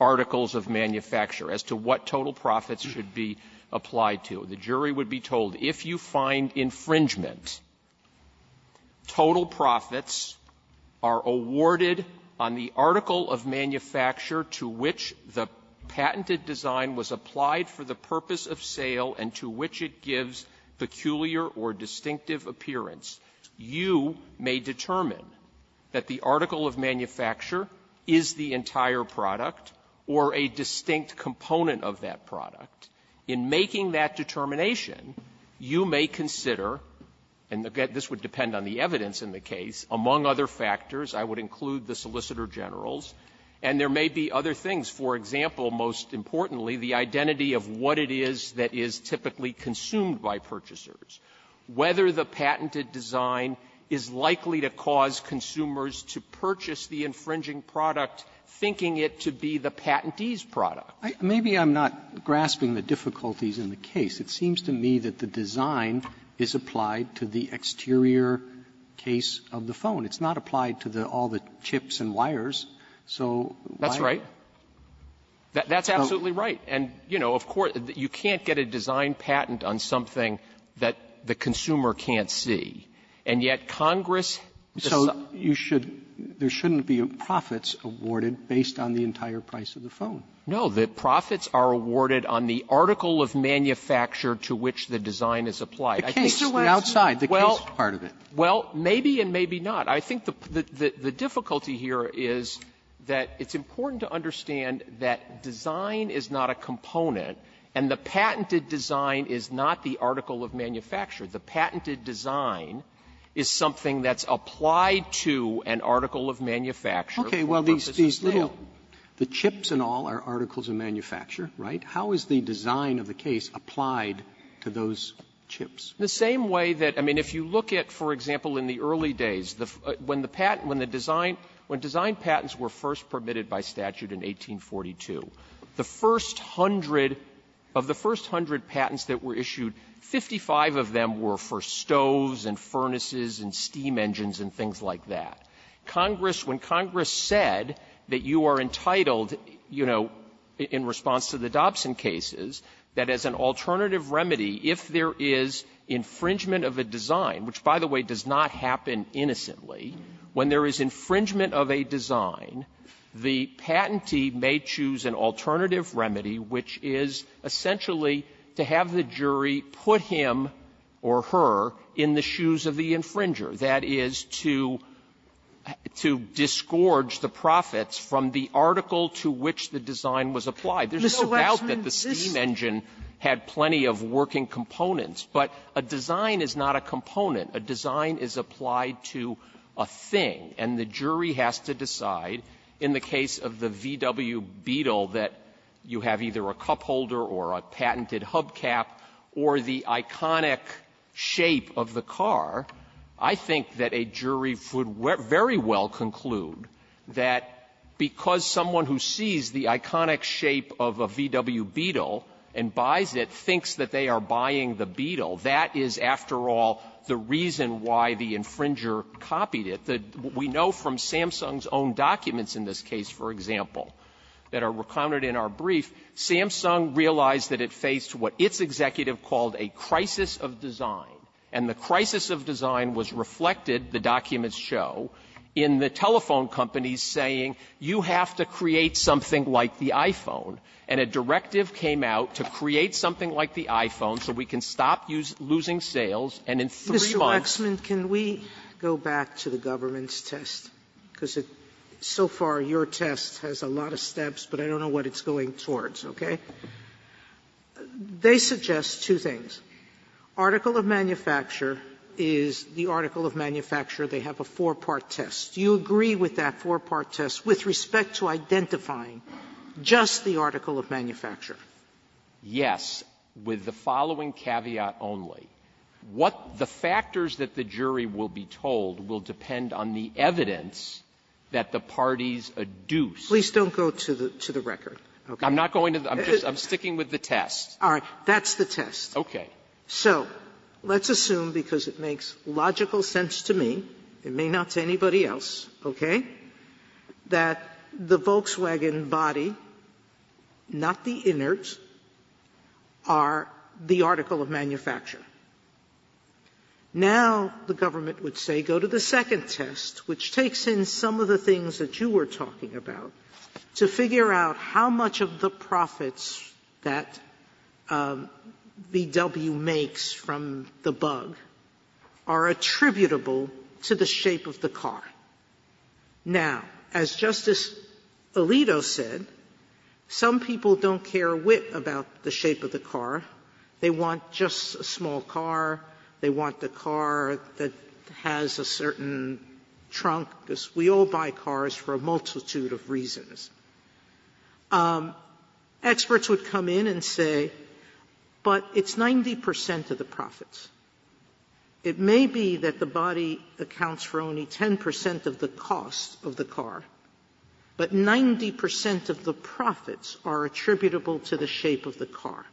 articles of manufacture, as to what total profits should be applied to, the jury would be told, if you find infringement, total profits are awarded on the article of manufacture to which the purpose of sale and to which it gives peculiar or distinctive appearance. You may determine that the article of manufacture is the entire product or a distinct component of that product. In making that determination, you may consider, and again, this would depend on the evidence in the case, among other factors, I would include the Solicitor Generals, and there may be other things. For example, most importantly, the identity of what it is that is typically consumed by purchasers, whether the patented design is likely to cause consumers to purchase the infringing product, thinking it to be the patentee's product. Maybe I'm not grasping the difficulties in the case. It seems to me that the design is applied to the exterior case of the phone. It's not applied to the all the chips and wires, so why are you going to do that? Waxman. Waxman. That's absolutely right. And, you know, of course, you can't get a design patent on something that the consumer And yet Congress decides to do that. Roberts. So you should, there shouldn't be profits awarded based on the entire price of the phone. Waxman. No. The profits are awarded on the article of manufacture to which the design is applied. I think there was the outside, the case part of it. Well, maybe and maybe not. I think the difficulty here is that it's important to understand that design is not a component, and the patented design is not the article of manufacture. The patented design is something that's applied to an article of manufacture for purposes of sale. Okay. Well, these little, the chips and all are articles of manufacture, right? How is the design of the case applied to those chips? The same way that, I mean, if you look at, for example, in the early days, when the patent, when the design, when design patents were first permitted by statute in 1842, the first hundred, of the first hundred patents that were issued, 55 of them were for stoves and furnaces and steam engines and things like that. Congress, when Congress said that you are entitled, you know, in response to the Dobson cases, that as an alternative remedy, if there is infringement of a design, which, by the way, does not happen innocently, when there is infringement of a design, the patentee may choose an alternative remedy, which is essentially to have the jury put him or her in the shoes of the infringer, that is, to, to disgorge the profits from the article to which the design was applied. There's no doubt that the steam engine had plenty of working components. But a design is not a component. A design is applied to a thing. And the jury has to decide, in the case of the VW Beetle, that you have either a cupholder or a patented hubcap or the iconic shape of the car. I think that a jury would very well conclude that because someone who sees the iconic shape of a VW Beetle and buys it thinks that they are buying the Beetle. That is, after all, the reason why the infringer copied it. We know from Samsung's own documents in this case, for example, that are recounted in our brief, Samsung realized that it faced what its executive called a crisis of design. And the crisis of design was reflected, the documents show, in the telephone companies saying, you have to create something like the iPhone. And a directive came out to create something like the iPhone so we can stop using losing sales. And in three months' time we have to create something like the iPhone. Sotomayor, Mr. Waxman, can we go back to the government's test? Because so far, your test has a lot of steps, but I don't know what it's going towards. Okay? They suggest two things. Article of manufacture is the article of manufacture. They have a four-part test. Do you agree with that four-part test with respect to identifying just the article of manufacture? Yes, with the following caveat only. What the factors that the jury will be told will depend on the evidence that the parties adduce. Please don't go to the record. I'm not going to the record. I'm sticking with the test. All right. That's the test. Okay. So let's assume, because it makes logical sense to me, it may not to anybody else, okay, that the Volkswagen body, not the inert, are the article of manufacture. Now, the government would say, go to the second test, which takes in some of the things that you were talking about, to figure out how much of the profits that VW makes from the bug are attributable to the shape of the car. Now, as Justice Alito said, some people don't care a whit about the shape of the car. They want just a small car. They want the car that has a certain trunk. We all buy cars for a multitude of reasons. Experts would come in and say, but it's 90 percent of the profits. It may be that the body accounts for only 10 percent of the cost of the car, but 90 percent of the profits are attributable to the shape of the car.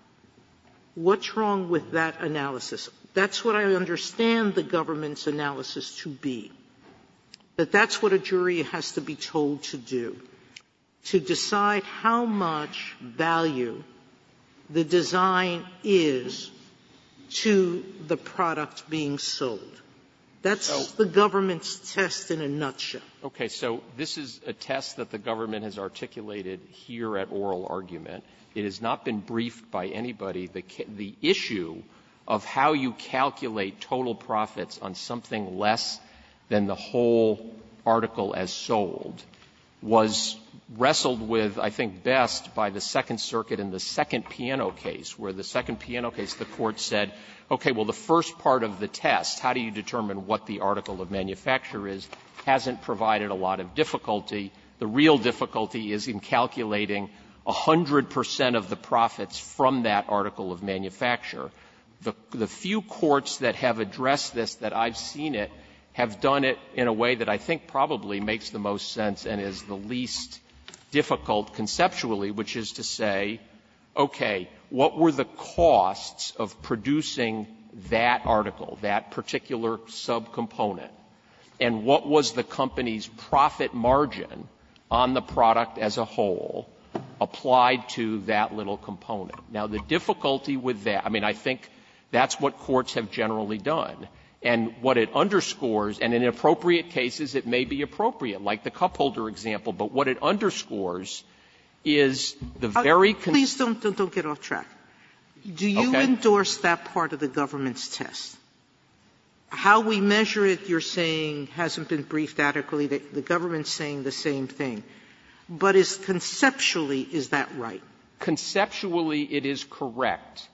What's wrong with that analysis? That's what I understand the government's analysis to be, that that's what a jury has to be told to do. To decide how much value the design is to the product being sold. That's the government's test in a nutshell. Waxman. Okay. So this is a test that the government has articulated here at oral argument. It has not been briefed by anybody. The issue of how you calculate total profits on something less than the whole article as sold was wrestled with, I think, best by the Second Circuit in the second piano case, where the second piano case, the Court said, okay, well, the first part of the test, how do you determine what the article of manufacture is, hasn't provided a lot of difficulty. The real difficulty is in calculating 100 percent of the profits from that article of manufacture. The few courts that have addressed this that I've seen it have done it in a way that I think probably makes the most sense and is the least difficult conceptually, which is to say, okay, what were the costs of producing that article, that particular subcomponent, and what was the company's profit margin on the product as a whole applied to that little component? Now, the difficulty with that, I mean, I think that's what courts have generally done. And what it underscores, and in appropriate cases it may be appropriate, like the cupholder example, but what it underscores is the very concerns of the government. Sotomayor, do you endorse that part of the government's test? How we measure it, you're saying, hasn't been briefed adequately. The government is saying the same thing. But is conceptually, is that right? Conceptually, it is correct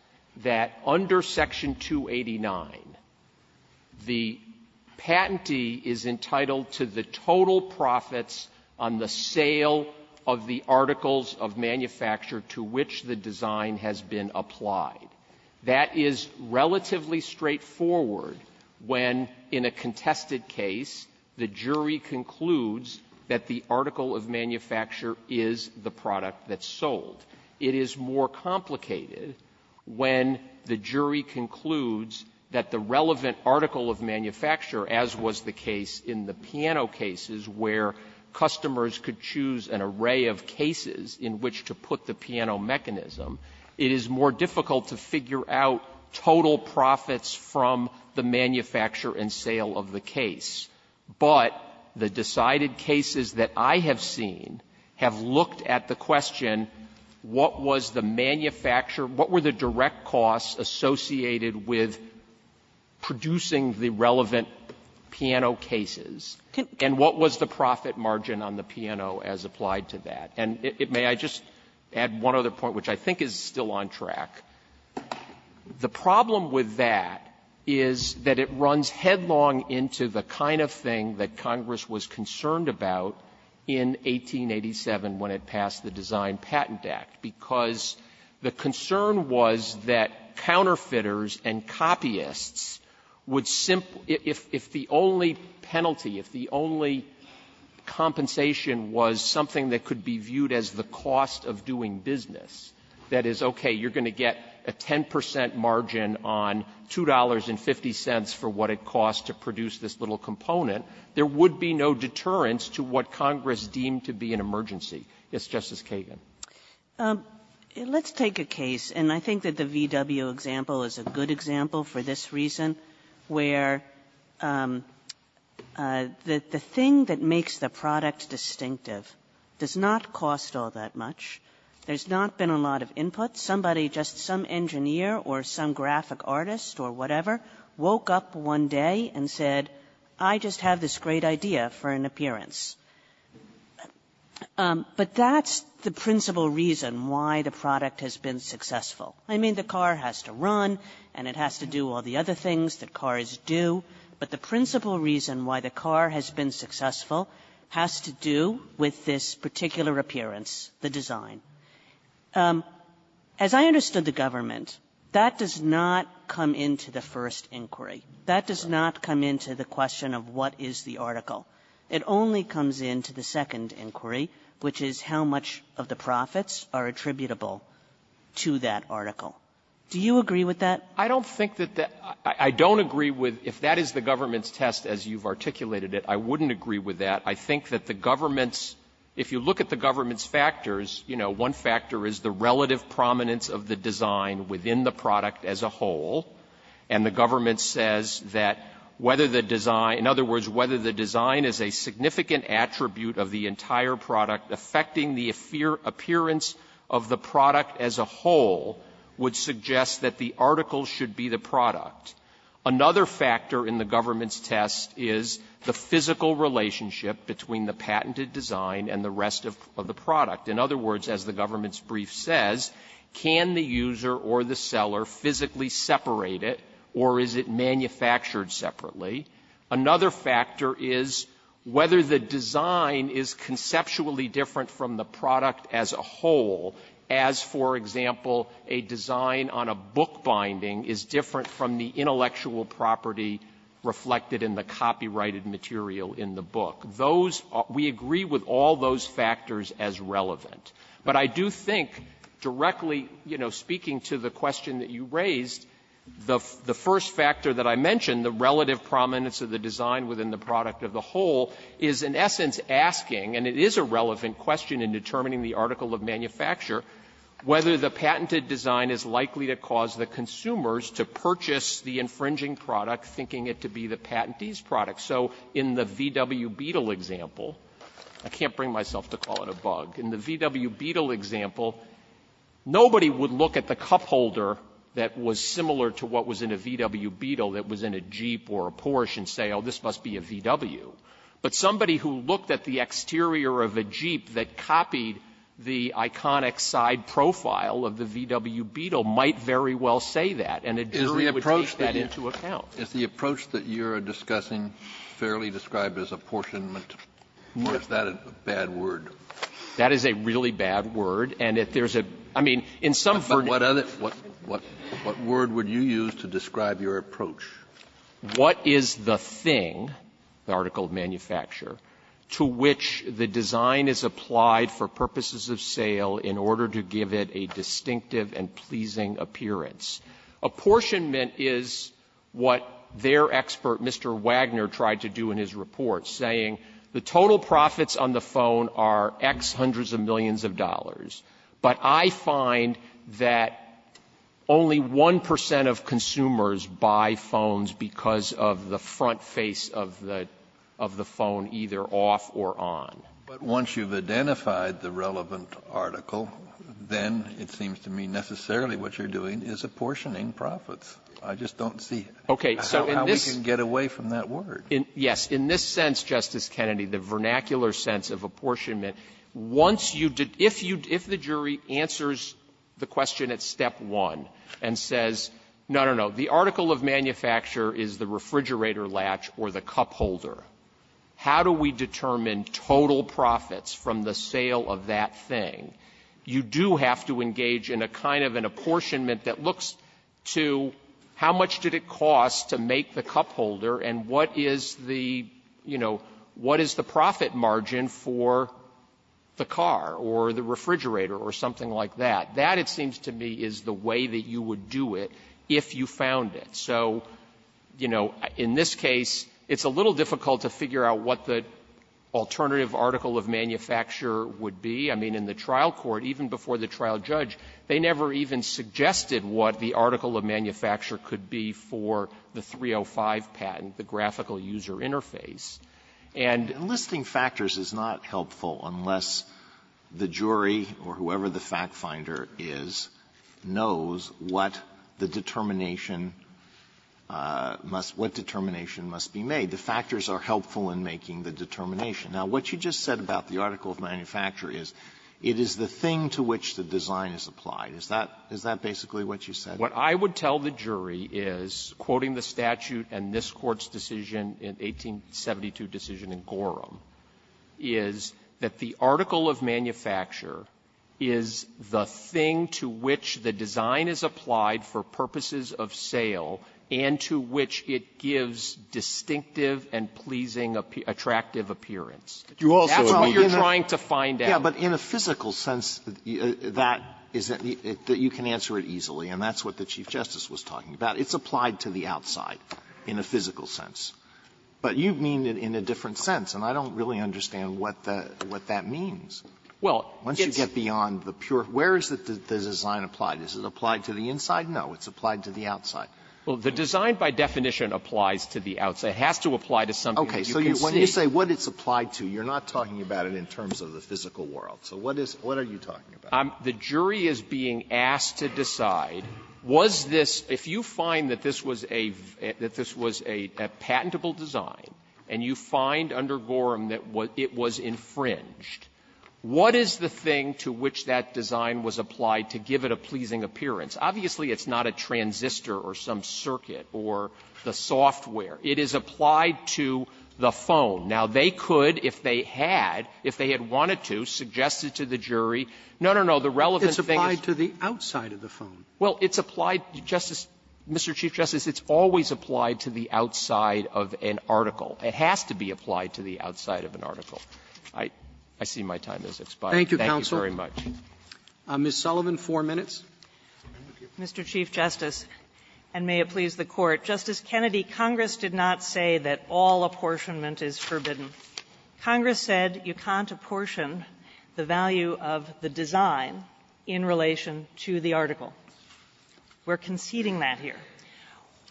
that under Section 289, the patentee is entitled to the total profits on the sale of the articles of manufacture to which the design has been applied. That is relatively straightforward when, in a contested case, the jury concludes that the article of manufacture is the product that's sold. It is more complicated when the jury concludes that the relevant article of manufacture, as was the case in the piano cases, where customers could choose an array of cases in which to put the piano mechanism, it is more difficult to figure out total profits from the manufacture and sale of the case. But the decided cases that I have seen have looked at the question, what was the manufacture or what were the direct costs associated with producing the relevant piano cases, and what was the profit margin on the piano as applied to that. And may I just add one other point, which I think is still on track. The problem with that is that it runs headlong into the kind of thing that Congress was concerned about in 1887 when it passed the Design Patent Act, because the concern was that counterfeiters and copyists would simply — if the only penalty, if the only compensation was something that could be viewed as the cost of doing business, that is, okay, you're going to get a 10 percent margin on $2.50 for what it costs to produce this little component, there would be no deterrence to what Congress deemed to be an emergency. Yes, Justice Kagan. Kagan. Kagan. And let's take a case, and I think that the VW example is a good example for this reason, where the thing that makes the product distinctive does not cost all that much. There's not been a lot of input. Somebody, just some engineer or some graphic artist or whatever, woke up one day and said, I just have this great idea for an appearance. But that's the principal reason why the product has been successful. I mean, the car has to run, and it has to do all the other things that cars do, but the principal reason why the car has been successful has to do with this particular appearance, the design. As I understood the government, that does not come into the first inquiry. That does not come into the question of what is the article. It only comes into the second inquiry, which is how much of the profits are attributable to that article. Do you agree with that? I don't think that that — I don't agree with, if that is the government's test, as you've articulated it, I wouldn't agree with that. I think that the government's — if you look at the government's factors, you know, one factor is the relative prominence of the design within the product as a whole, and the government says that whether the design — in other words, whether the design is a significant attribute of the entire product affecting the appearance of the product as a whole would suggest that the article should be assessed is the physical relationship between the patented design and the rest of the product. In other words, as the government's brief says, can the user or the seller physically separate it, or is it manufactured separately? Another factor is whether the design is conceptually different from the product as a whole, as, for example, a design on a bookbinding is different from the intellectual property reflected in the copyrighted material in the book. Those — we agree with all those factors as relevant. But I do think, directly, you know, speaking to the question that you raised, the first factor that I mentioned, the relative prominence of the design within the product as a whole, is in essence asking, and it is a relevant question in determining the article of manufacture, whether the patented design is likely to cause the consumers to purchase the infringing product, thinking it to be the patentee's product. So in the VW Beetle example — I can't bring myself to call it a bug. In the VW Beetle example, nobody would look at the cupholder that was similar to what was in a VW Beetle that was in a Jeep or a Porsche and say, oh, this must be a VW. But somebody who looked at the exterior of a Jeep that copied the iconic side profile of the VW Beetle might very well say that. And a jury would take that into account. Kennedy, it's the approach that you're discussing fairly described as apportionment. Or is that a bad word? That is a really bad word. And if there's a — I mean, in some verdicts — But what other — what word would you use to describe your approach? What is the thing, the article of manufacture, to which the design is applied for purposes of sale in order to give it a distinctive and pleasing appearance? Apportionment is what their expert, Mr. Wagner, tried to do in his report, saying the total profits on the phone are X hundreds of millions of dollars, but I find that only 1 percent of consumers buy phones because of the front face of the — of the phone, either off or on. But once you've identified the relevant article, then it seems to me necessarily what you're doing is apportioning profits. I just don't see how we can get away from that word. Okay. So in this — yes. In this sense, Justice Kennedy, the vernacular sense of apportionment, once you — if you — if the jury answers the question at step one and says, no, no, no, the article of manufacture is the refrigerator latch or the cup holder, how do we determine total profits from the sale of that thing, you do have to engage in a kind of an apportionment that looks to how much did it cost to make the cup holder and what is the, you know, what is the profit margin for the car or the refrigerator or something like that. That, it seems to me, is the way that you would do it if you found it. So, you know, in this case, it's a little difficult to figure out what the alternative article of manufacture would be. I mean, in the trial court, even before the trial judge, they never even suggested what the article of manufacture could be for the 305 patent, the graphical user interface. And — Alitoso, and listing factors is not helpful unless the jury, or whoever the factfinder is, knows what the determination must — what determination must be made. The factors are helpful in making the determination. Now, what you just said about the article of manufacture is, it is the thing to which the design is applied. Is that — is that basically what you said? What I would tell the jury is, quoting the statute and this Court's decision in 1872 decision in Gorham, is that the article of manufacture is the thing to which the design is applied for purposes of sale and to which it gives distinctive and pleasing, attractive appearance. That's all you're trying to find out. Alitoso, but in a physical sense, that is that you can answer it easily. And that's what the Chief Justice was talking about. It's applied to the outside in a physical sense. But you mean it in a different sense, and I don't really understand what that means. Once you get beyond the pure — where is the design applied? Is it applied to the inside? No. It's applied to the outside. Well, the design, by definition, applies to the outside. It has to apply to something that you can see. Okay. So when you say what it's applied to, you're not talking about it in terms of the physical world. So what is — what are you talking about? The jury is being asked to decide, was this — if you find that this was a — that patentable design, and you find under Gorham that it was infringed, what is the thing to which that design was applied to give it a pleasing appearance? Obviously, it's not a transistor or some circuit or the software. It is applied to the phone. Now, they could, if they had, if they had wanted to, suggest it to the jury. No, no, no. The relevant thing is — It's applied to the outside of the phone. Well, it's applied — Justice — Mr. Chief Justice, it's always applied to the outside of an article. It has to be applied to the outside of an article. I — I see my time has expired. Thank you very much. Thank you, counsel. Ms. Sullivan, four minutes. Mr. Chief Justice, and may it please the Court. Justice Kennedy, Congress did not say that all apportionment is forbidden. Congress said you can't apportion the value of the design in relation to the article. We're conceding that here.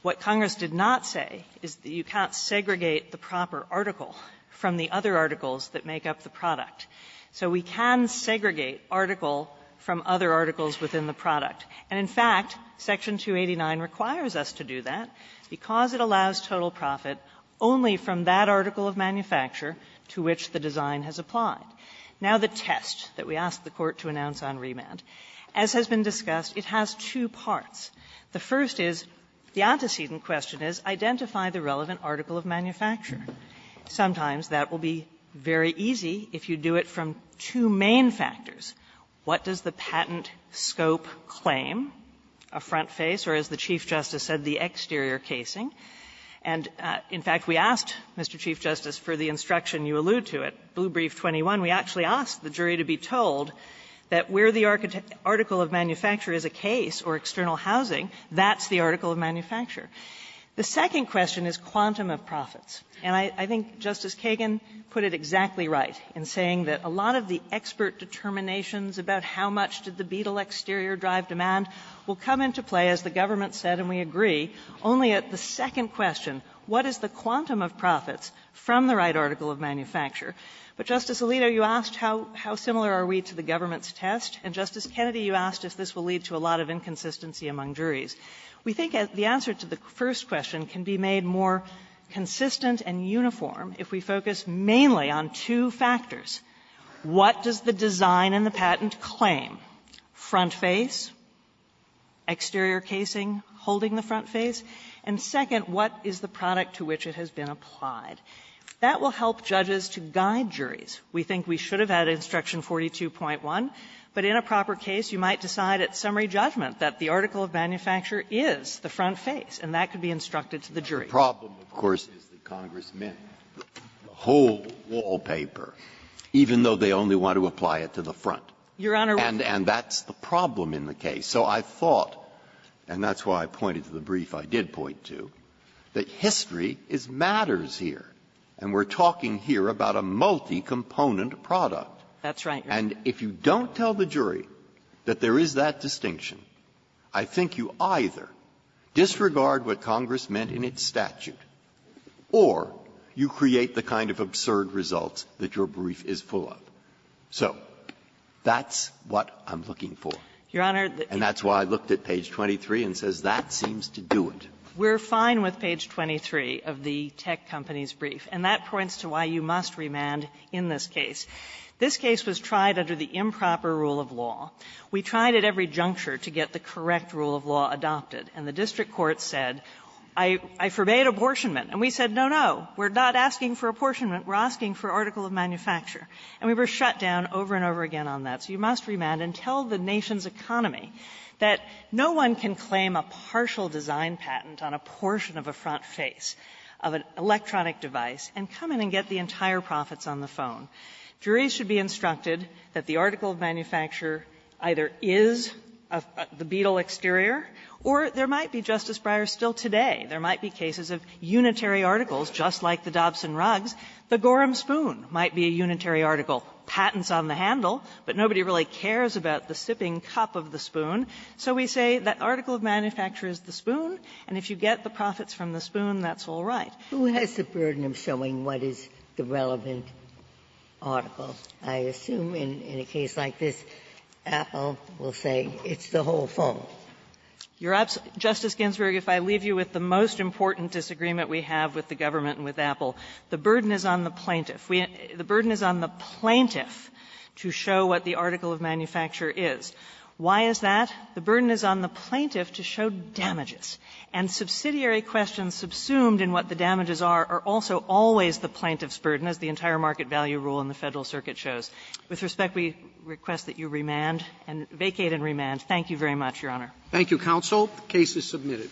What Congress did not say is that you can't segregate the proper article from the other articles that make up the product. So we can segregate article from other articles within the product. And, in fact, Section 289 requires us to do that because it allows total profit only from that article of manufacture to which the design has applied. Now, the test that we asked the Court to announce on remand, as has been discussed, it has two parts. The first is, the antecedent question is, identify the relevant article of manufacture. Sometimes that will be very easy if you do it from two main factors. What does the patent scope claim, a front face or, as the Chief Justice said, the exterior casing? And, in fact, we asked, Mr. Chief Justice, for the instruction you allude to at Blue Brief 21, we actually asked the jury to be told that where the article of manufacture is a case or external housing, that's the article of manufacture. The second question is quantum of profits. And I think Justice Kagan put it exactly right in saying that a lot of the expert determinations about how much did the Beetle exterior drive demand will come into play, as the government said, and we agree, only at the second question, what is the quantum of profits from the right article of manufacture. But, Justice Alito, you asked how similar are we to the government's test, and, Justice Kennedy, you asked if this will lead to a lot of inconsistency among juries. We think the answer to the first question can be made more consistent and uniform if we focus mainly on two factors. What does the design in the patent claim? Front face, exterior casing holding the front face, and, second, what is the product to which it has been applied? That will help judges to guide juries. We think we should have had Instruction 42.1, but in a proper case, you might decide at summary judgment that the article of manufacture is the front face, and that could be instructed to the jury. Breyer. The problem, of course, is the congressman, the whole wallpaper, even though they only want to apply it to the front. Your Honor, we can't. And that's the problem in the case. So I thought, and that's why I pointed to the brief I did point to, that history is matters here, and we're talking here about a multi-component product. That's right, Your Honor. And if you don't tell the jury that there is that distinction, I think you either disregard what Congress meant in its statute or you create the kind of absurd results that your brief is full of. So that's what I'm looking for. Your Honor, the key point is that the brief is full of absurd results. And that's why I looked at page 23 and says that seems to do it. We're fine with page 23 of the tech company's brief. And that points to why you must remand in this case. This case was tried under the improper rule of law. We tried at every juncture to get the correct rule of law adopted. And the district court said, I forbade apportionment. And we said, no, no, we're not asking for apportionment. We're asking for article of manufacture. And we were shut down over and over again on that. So you must remand and tell the nation's economy that no one can claim a partial design patent on a portion of a front face of an electronic device and come in and get the entire profits on the phone. Juries should be instructed that the article of manufacture either is the Beetle exterior or there might be, Justice Breyer, still today, there might be cases of unitary articles just like the Dobson rugs. The Gorham spoon might be a unitary article. Patent's on the handle, but nobody really cares about the sipping cup of the spoon. So we say that article of manufacture is the spoon, and if you get the profits from the spoon, that's all right. Ginsburg. Who has the burden of showing what is the relevant article? I assume in a case like this, Apple will say it's the whole phone. Justice Ginsburg, if I leave you with the most important disagreement we have with the government and with Apple, the burden is on the plaintiff. The burden is on the plaintiff to show what the article of manufacture is. Why is that? The burden is on the plaintiff to show damages. And subsidiary questions subsumed in what the damages are are also always the plaintiff's burden, as the entire market value rule in the Federal Circuit shows. With respect, we request that you remand and vacate and remand. Thank you very much, Your Honor. Roberts. Thank you, counsel. The case is submitted.